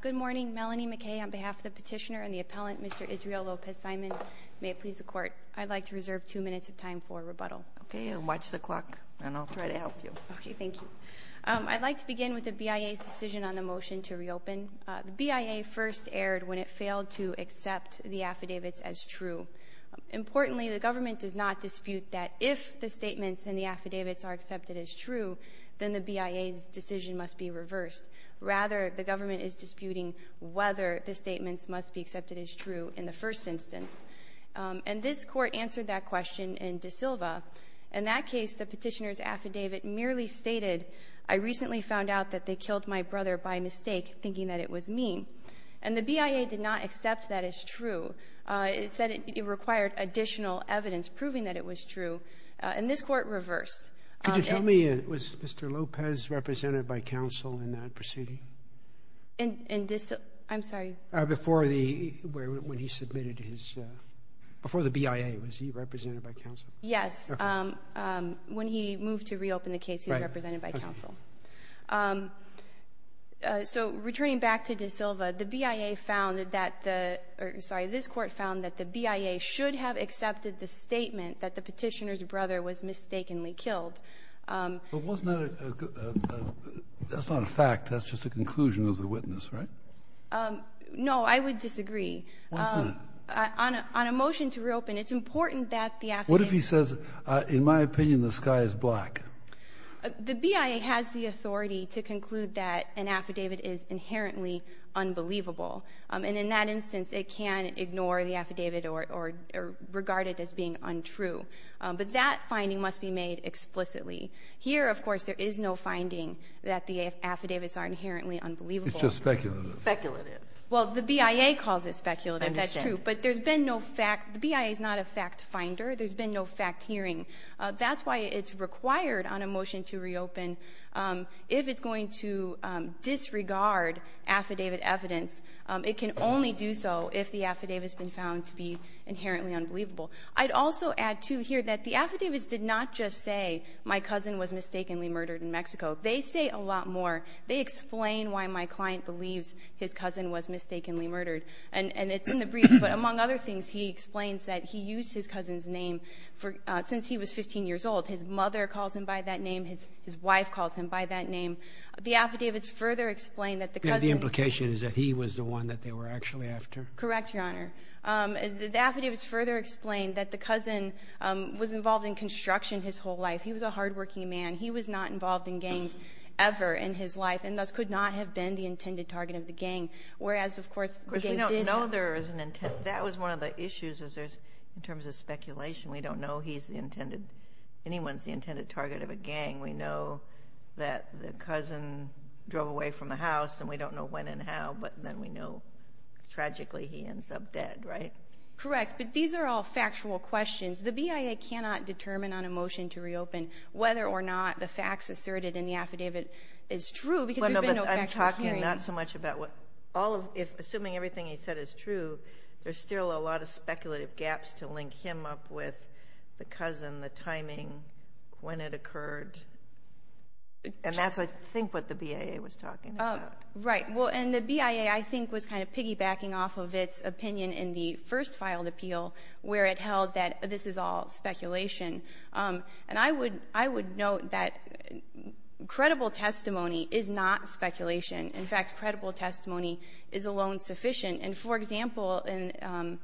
Good morning, Melanie McKay on behalf of the petitioner and the appellant, Mr. Israel Lopez Simon. May it please the court, I'd like to reserve two minutes of time for rebuttal. Okay, and watch the clock, and I'll try to help you. Okay, thank you. I'd like to begin with the BIA's decision on the motion to reopen. The BIA first erred when it failed to accept the affidavits as true. Importantly, the government does not dispute that if the statements in the affidavits are accepted as true, then the BIA's decision must be reversed. Rather, the government is disputing whether the statements must be accepted as true in the first instance. And this Court answered that question in De Silva. In that case, the petitioner's affidavit merely stated, I recently found out that they killed my brother by mistake, thinking that it was mean. And the BIA did not accept that as true. It said it required additional evidence proving that it was true. And this Court reversed. Could you tell me, was Mr. Lopez represented by counsel in that proceeding? In De Silva? I'm sorry. Before the ‑‑ when he submitted his ‑‑ before the BIA, was he represented by counsel? Yes. Okay. When he moved to reopen the case, he was represented by counsel. Right. Okay. So returning back to De Silva, the BIA found that the ‑‑ But wasn't that a ‑‑ that's not a fact. That's just a conclusion of the witness, right? No, I would disagree. Why is that? On a motion to reopen, it's important that the affidavit ‑‑ What if he says, in my opinion, the sky is black? The BIA has the authority to conclude that an affidavit is inherently unbelievable. And in that instance, it can ignore the affidavit or regard it as being untrue. But that finding must be made explicitly. Here, of course, there is no finding that the affidavits are inherently unbelievable. It's just speculative. Speculative. Well, the BIA calls it speculative, that's true. I understand. But there's been no fact ‑‑ the BIA is not a fact finder. There's been no fact hearing. That's why it's required on a motion to reopen. If it's going to disregard affidavit evidence, it can only do so if the affidavit has been found to be inherently unbelievable. I'd also add, too, here that the affidavits did not just say my cousin was mistakenly murdered in Mexico. They say a lot more. They explain why my client believes his cousin was mistakenly murdered. And it's in the briefs. But among other things, he explains that he used his cousin's name since he was 15 years old. His mother calls him by that name. His wife calls him by that name. The affidavits further explain that the cousin ‑‑ And the implication is that he was the one that they were actually after? Correct, Your Honor. The affidavits further explain that the cousin was involved in construction his whole life. He was a hardworking man. He was not involved in gangs ever in his life, and thus could not have been the intended target of the gang. Whereas, of course, the gang did ‑‑ Of course, we don't know there was an intent. That was one of the issues, in terms of speculation. We don't know he's the intended ‑‑ anyone's the intended target of a gang. We know that the cousin drove away from the house, and we don't know when and how. But then we know, tragically, he ends up dead, right? Correct. But these are all factual questions. The BIA cannot determine on a motion to reopen whether or not the facts asserted in the affidavit is true, because there's been no factual hearing. I'm talking not so much about what ‑‑ Assuming everything he said is true, there's still a lot of speculative gaps to link him up with the cousin, the timing, when it occurred. And that's, I think, what the BIA was talking about. Right. Well, and the BIA, I think, was kind of piggybacking off of its opinion in the first filed appeal, where it held that this is all speculation. And I would note that credible testimony is not speculation. In fact, credible testimony is alone sufficient. And, for example, in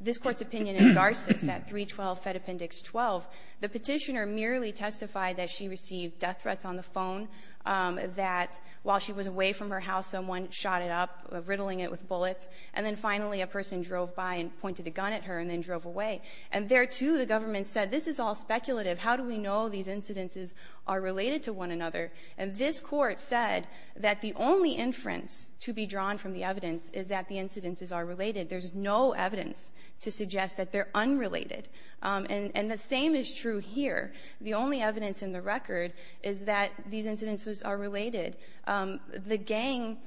this Court's opinion in Garces at 312 Fed Appendix 12, the Petitioner merely testified that she received death threats on the phone, that while she was away from her house, someone shot it up, riddling it with bullets, and then finally a person drove by and pointed a gun at her and then drove away. And there, too, the government said this is all speculative. How do we know these incidences are related to one another? And this Court said that the only inference to be drawn from the evidence is that the incidences are related. There's no evidence to suggest that they're unrelated. And the same is true here. The only evidence in the record is that these incidences are related. The gang,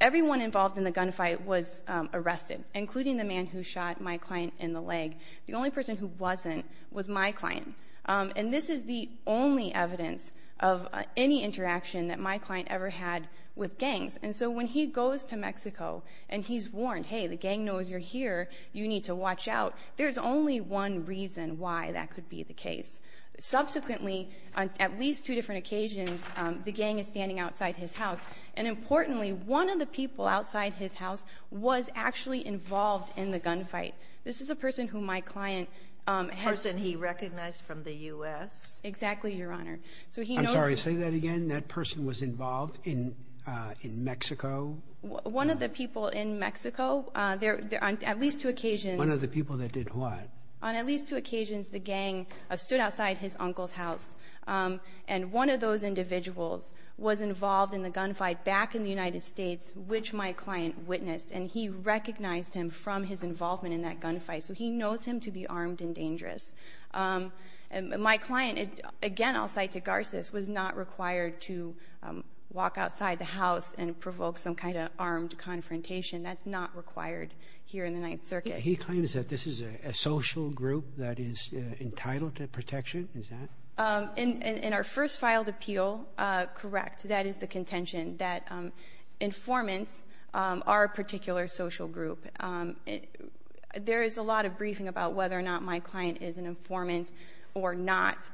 everyone involved in the gunfight was arrested, including the man who shot my client in the leg. The only person who wasn't was my client. And this is the only evidence of any interaction that my client ever had with gangs. And so when he goes to Mexico and he's warned, hey, the gang knows you're here, you need to watch out, there's only one reason why that could be the case. Subsequently, on at least two different occasions, the gang is standing outside his house. And importantly, one of the people outside his house was actually involved in the gunfight. This is a person who my client has. A person he recognized from the U.S.? Exactly, Your Honor. I'm sorry, say that again? That person was involved in Mexico? One of the people in Mexico. On at least two occasions. One of the people that did what? On at least two occasions, the gang stood outside his uncle's house. And one of those individuals was involved in the gunfight back in the United States, which my client witnessed. And he recognized him from his involvement in that gunfight. So he knows him to be armed and dangerous. My client, again, I'll cite to Garces, was not required to walk outside the house and provoke some kind of armed confrontation. That's not required here in the Ninth Circuit. He claims that this is a social group that is entitled to protection, is that? In our first filed appeal, correct. That is the contention, that informants are a particular social group. There is a lot of briefing about whether or not my client is an informant or not.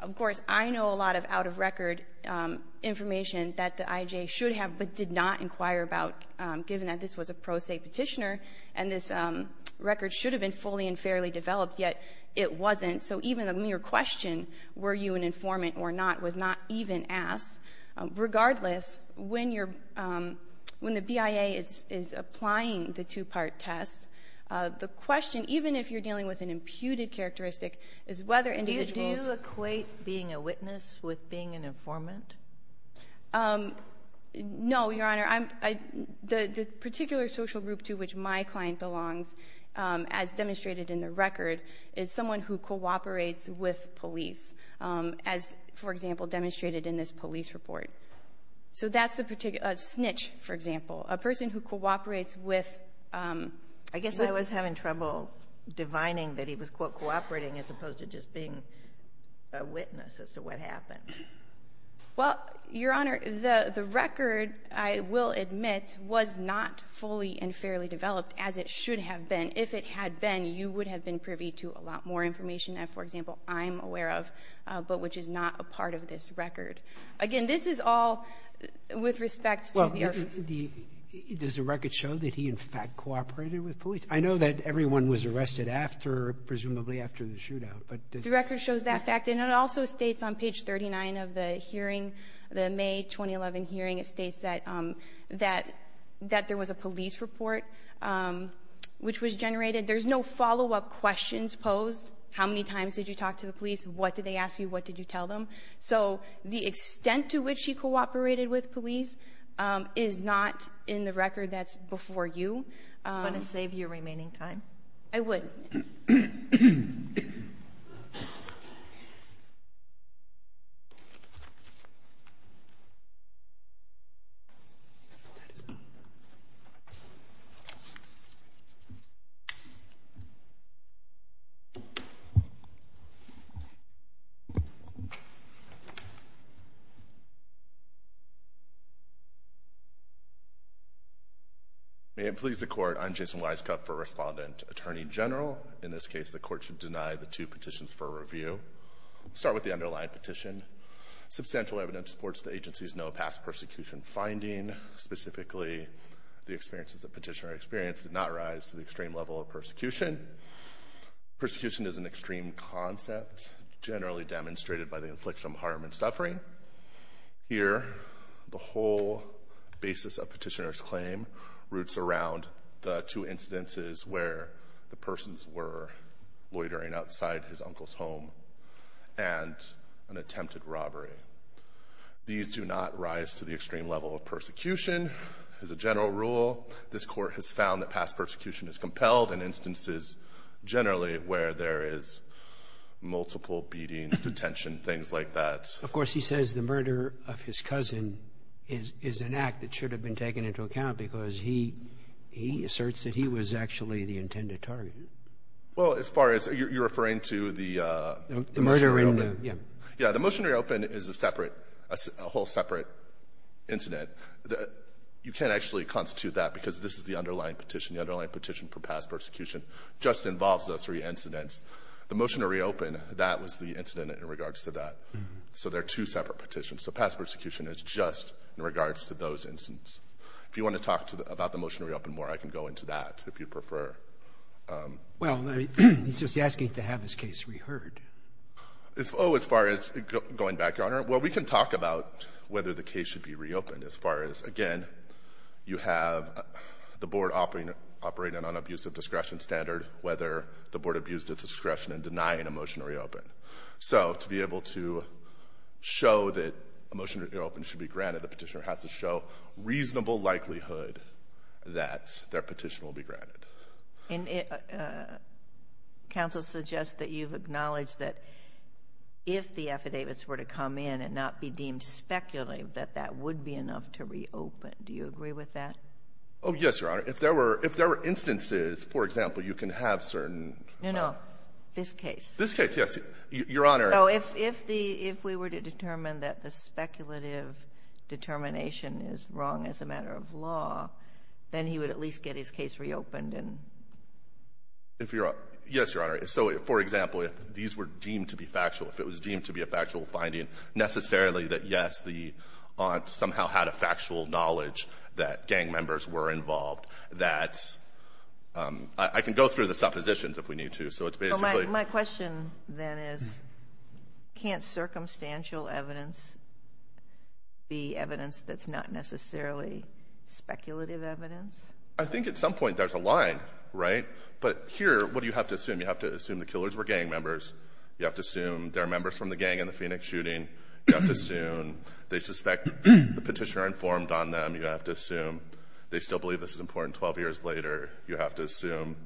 Of course, I know a lot of out-of-record information that the IJ should have but did not inquire about, given that this was a pro se petitioner and this record should have been fully and fairly developed, yet it wasn't. So even a mere question, were you an informant or not, was not even asked. Regardless, when the BIA is applying the two-part test, the question, even if you're dealing with an imputed characteristic, is whether individuals Do you equate being a witness with being an informant? No, Your Honor. The particular social group to which my client belongs, as demonstrated in the record, is someone who cooperates with police, as, for example, demonstrated in this police report. So that's a snitch, for example, a person who cooperates with I guess I was having trouble divining that he was, quote, cooperating as opposed to just being a witness as to what happened. Well, Your Honor, the record, I will admit, was not fully and fairly developed as it should have been. If it had been, you would have been privy to a lot more information, as, for example, I'm aware of, but which is not a part of this record. Again, this is all with respect to the Well, does the record show that he, in fact, cooperated with police? I know that everyone was arrested after, presumably after the shootout, but does The record shows that fact. And it also states on page 39 of the hearing, the May 2011 hearing, it states that there was a police report which was generated. There's no follow-up questions posed. How many times did you talk to the police? What did they ask you? What did you tell them? So the extent to which he cooperated with police is not in the record that's before you. Do you want to save your remaining time? I would. All right. May it please the Court, I'm Jason Weiskopf for Respondent Attorney General. In this case, the Court should deny the two petitions for review. Start with the underlying petition. Substantial evidence supports the agency's no past persecution finding. Specifically, the experiences the petitioner experienced did not rise to the extreme level of persecution. Persecution is an extreme concept generally demonstrated by the infliction of harm and suffering. Here, the whole basis of petitioner's claim roots around the two instances where the persons were loitering outside his uncle's home and an attempted robbery. These do not rise to the extreme level of persecution. As a general rule, this Court has found that past persecution is compelled in instances generally where there is multiple beatings, detention, things like that. Of course, he says the murder of his cousin is an act that should have been taken into account because he asserts that he was actually the intended target. Well, as far as you're referring to the motion to reopen? The murder in the, yeah. Yeah, the motion to reopen is a separate, a whole separate incident. You can't actually constitute that because this is the underlying petition. The underlying petition for past persecution just involves those three incidents. The motion to reopen, that was the incident in regards to that. So they're two separate petitions. So past persecution is just in regards to those incidents. If you want to talk about the motion to reopen more, I can go into that if you prefer. Well, he's just asking to have his case reheard. Oh, as far as going back, Your Honor. Well, we can talk about whether the case should be reopened as far as, again, you have the Board operating on an abusive discretion standard, whether the Board abused its discretion in denying a motion to reopen. So to be able to show that a motion to reopen should be granted, the Petitioner has to show reasonable likelihood that their petition will be granted. And counsel suggests that you've acknowledged that if the affidavits were to come in and not be deemed speculative, that that would be enough to reopen. Do you agree with that? Oh, yes, Your Honor. If there were instances, for example, you can have certain. No, no. This case. This case, yes. Your Honor. Oh, if we were to determine that the speculative determination is wrong as a matter of law, then he would at least get his case reopened and. Yes, Your Honor. So, for example, if these were deemed to be factual, if it was deemed to be a factual finding, necessarily that, yes, the aunt somehow had a factual knowledge that gang members were involved, that I can go through the suppositions if we need to. So it's basically. My question then is, can't circumstantial evidence be evidence that's not necessarily speculative evidence? I think at some point there's a line, right? But here, what do you have to assume? You have to assume the killers were gang members. You have to assume they're members from the gang in the Phoenix shooting. You have to assume they suspect the Petitioner informed on them. You have to assume they still believe this is important 12 years later. You have to assume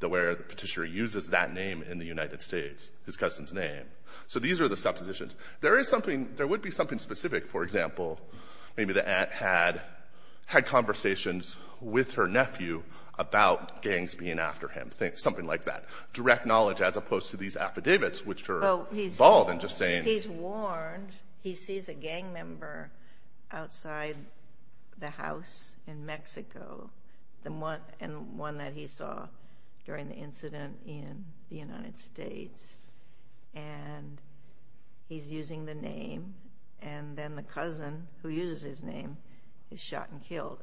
where the Petitioner uses that name in the United States, his cousin's name. So these are the suppositions. There is something, there would be something specific. For example, maybe the aunt had conversations with her nephew about gangs being after him, something like that. Direct knowledge as opposed to these affidavits, which are bald and just saying. He's warned, he sees a gang member outside the house in Mexico, and one that he saw during the incident in the United States, and he's using the name. And then the cousin, who uses his name, is shot and killed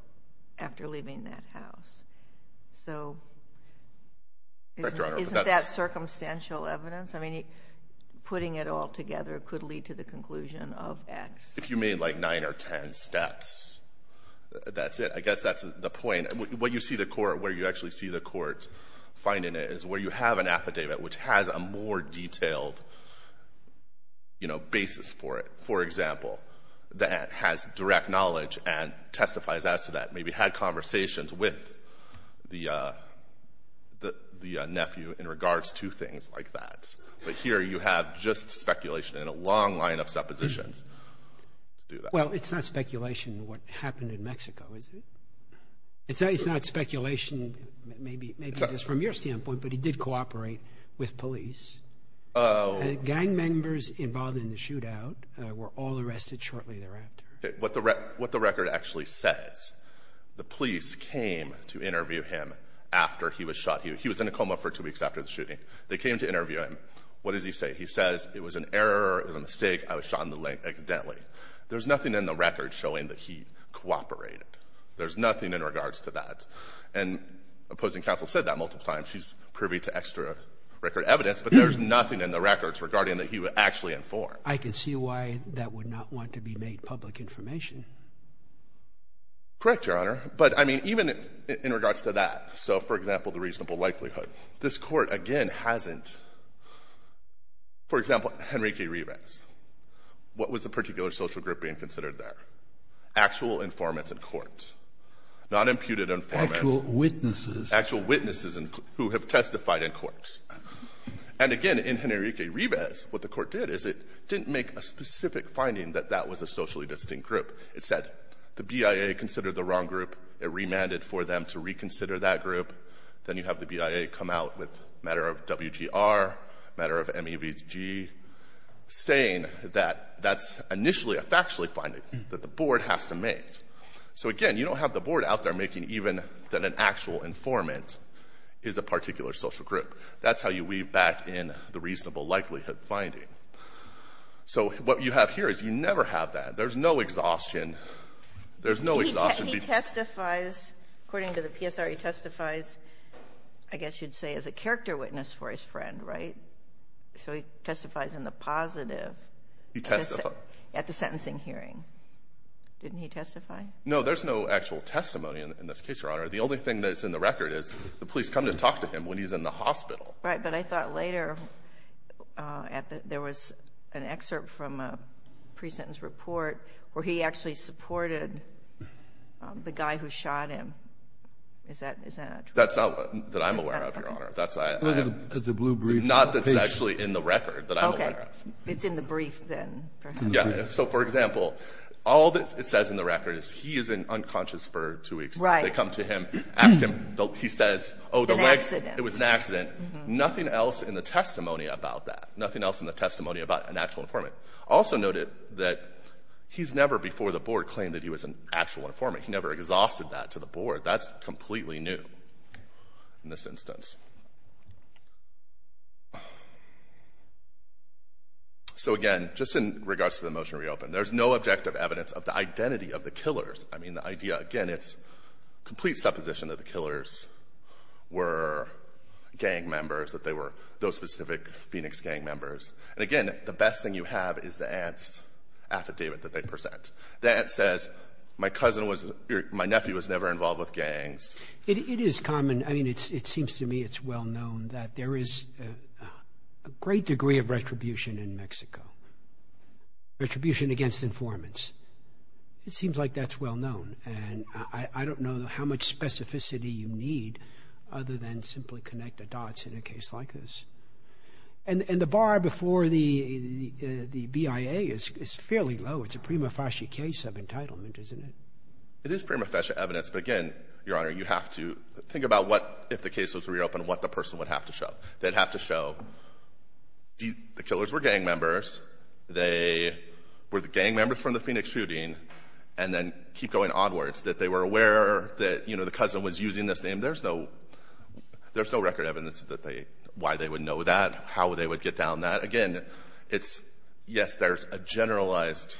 after leaving that house. So isn't that circumstantial evidence? I mean, putting it all together could lead to the conclusion of X. If you mean like 9 or 10 steps, that's it. I guess that's the point. What you see the court, where you actually see the court finding it is where you have an affidavit, which has a more detailed, you know, basis for it. For example, the aunt has direct knowledge and testifies as to that, maybe had conversations with the nephew in regards to things like that. But here you have just speculation and a long line of suppositions to do that. Well, it's not speculation what happened in Mexico, is it? It's not speculation, maybe just from your standpoint, but he did cooperate with police. Oh. Gang members involved in the shootout were all arrested shortly thereafter. What the record actually says, the police came to interview him after he was shot. He was in a coma for two weeks after the shooting. They came to interview him. What does he say? He says it was an error or a mistake. I was shot in the leg accidentally. There's nothing in the record showing that he cooperated. There's nothing in regards to that. And opposing counsel said that multiple times. She's privy to extra record evidence. But there's nothing in the records regarding that he was actually informed. But I can see why that would not want to be made public information. Correct, Your Honor. But, I mean, even in regards to that. So, for example, the reasonable likelihood. This court, again, hasn't. For example, Henrique Rivas. What was the particular social group being considered there? Actual informants in court. Not imputed informants. Actual witnesses. Actual witnesses who have testified in courts. And, again, in Henrique Rivas, what the court did is it didn't make a specific finding that that was a socially distinct group. It said the BIA considered the wrong group. It remanded for them to reconsider that group. Then you have the BIA come out with a matter of WGR, a matter of MEVG, saying that that's initially a factually finding that the board has to make. So, again, you don't have the board out there making even that an actual informant is a particular social group. That's how you weave back in the reasonable likelihood finding. So what you have here is you never have that. There's no exhaustion. There's no exhaustion. He testifies. According to the PSR, he testifies, I guess you'd say, as a character witness for his friend, right? So he testifies in the positive. He testified. At the sentencing hearing. Didn't he testify? No. There's no actual testimony in this case, Your Honor. The only thing that's in the record is the police come to talk to him when he's in the hospital. Right, but I thought later there was an excerpt from a pre-sentence report where he actually supported the guy who shot him. Is that true? That's not what I'm aware of, Your Honor. Not that's actually in the record that I'm aware of. Okay. It's in the brief, then. Yeah. So, for example, all that it says in the record is he is in unconscious for two weeks. Right. They come to him, ask him. He says, oh, the legs. It was an accident. It was an accident. Nothing else in the testimony about that. Nothing else in the testimony about an actual informant. Also noted that he's never before the Board claimed that he was an actual informant. He never exhausted that to the Board. That's completely new in this instance. So, again, just in regards to the motion to reopen, there's no objective evidence of the identity of the killers. I mean, the idea, again, it's complete supposition that the killers were gang members, that they were those specific Phoenix gang members. And, again, the best thing you have is the aunt's affidavit that they present. The aunt says, my nephew was never involved with gangs. It is common. I mean, it seems to me it's well known that there is a great degree of retribution in Mexico, retribution against informants. It seems like that's well known. And I don't know how much specificity you need other than simply connect the dots in a case like this. And the bar before the BIA is fairly low. It's a prima facie case of entitlement, isn't it? It is prima facie evidence. But, again, Your Honor, you have to think about what if the case was reopened, what the person would have to show. They'd have to show the killers were gang members. They were the gang members from the Phoenix shooting. And then keep going onwards, that they were aware that, you know, the cousin was using this name. There's no record evidence that they why they would know that, how they would get down that. Again, it's, yes, there's a generalized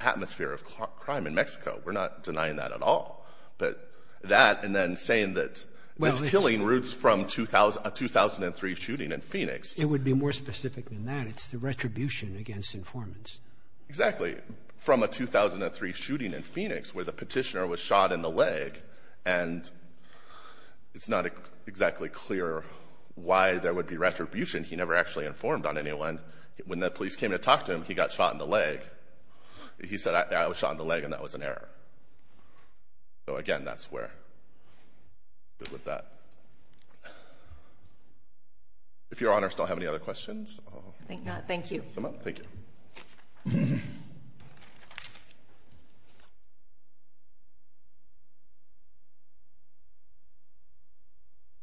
atmosphere of crime in Mexico. We're not denying that at all. But that and then saying that this killing roots from a 2003 shooting in Phoenix. It would be more specific than that. It's the retribution against informants. Exactly. From a 2003 shooting in Phoenix where the petitioner was shot in the leg. And it's not exactly clear why there would be retribution. He never actually informed on anyone. When the police came to talk to him, he got shot in the leg. He said, I was shot in the leg, and that was an error. So, again, that's where we're with that. If Your Honor still have any other questions. I think not. Thank you. Thank you.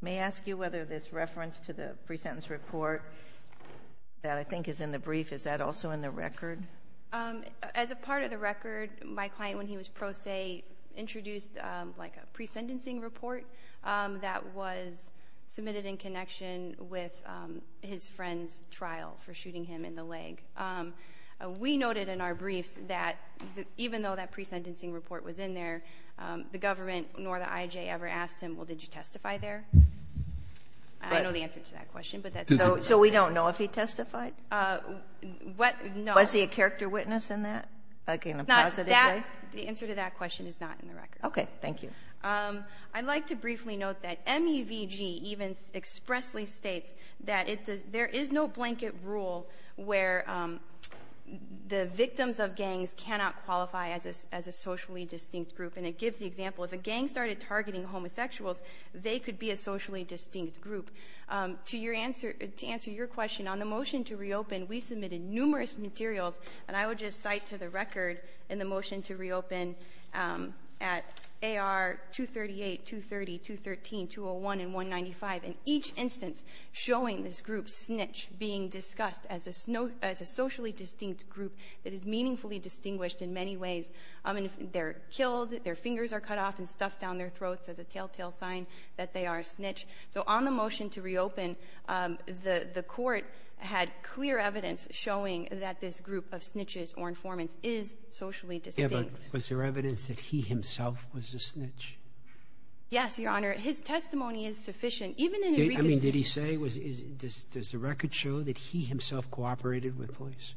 May I ask you whether this reference to the pre-sentence report that I think is in the brief, is that also in the record? As a part of the record, my client, when he was pro se, introduced like a pre-sentencing report that was submitted in connection with his friend's trial for shooting him in the leg. We noted in our briefs that even though that pre-sentencing report was in there, the government nor the IJ ever asked him, well, did you testify there? I don't know the answer to that question. So we don't know if he testified? No. Was he a character witness in that, like in a positive way? The answer to that question is not in the record. Okay. I would like to briefly note that MEVG even expressly states that there is no blanket rule where the victims of gangs cannot qualify as a socially distinct group, and it gives the example, if a gang started targeting homosexuals, they could be a socially distinct group. To answer your question, on the motion to reopen, we submitted numerous materials, and I would just cite to the record in the motion to reopen at AR 238, 230, 213, 201, and 195, in each instance showing this group snitch being discussed as a socially distinct group that is meaningfully distinguished in many ways. I mean, they're killed, their fingers are cut off and stuffed down their throats as a telltale sign that they are a snitch. So on the motion to reopen, the court had clear evidence showing that this group of snitches or informants is socially distinct. Yeah, but was there evidence that he himself was a snitch? Yes, Your Honor. His testimony is sufficient. Even in a reconstruction. I mean, did he say? Does the record show that he himself cooperated with police?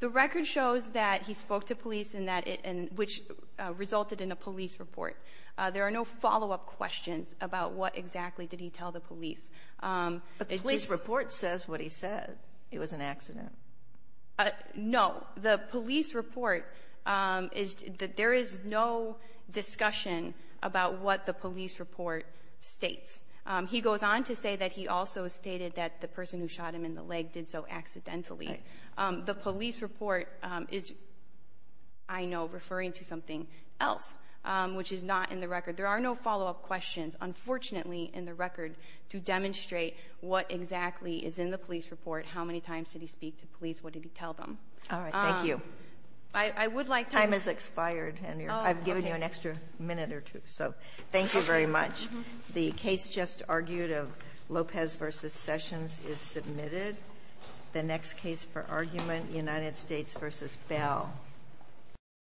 The record shows that he spoke to police and that it — which resulted in a police report. There are no follow-up questions about what exactly did he tell the police. But the police report says what he said. It was an accident. No. The police report is — there is no discussion about what the police report states. He goes on to say that he also stated that the person who shot him in the leg did so accidentally. Right. The police report is, I know, referring to something else, which is not in the record. There are no follow-up questions, unfortunately, in the record to demonstrate what exactly is in the police report, how many times did he speak to police, what did he tell them. All right. Thank you. I would like to — Time has expired, and I've given you an extra minute or two. So thank you very much. The case just argued of Lopez v. Sessions is submitted. The next case for argument, United States v. Bell.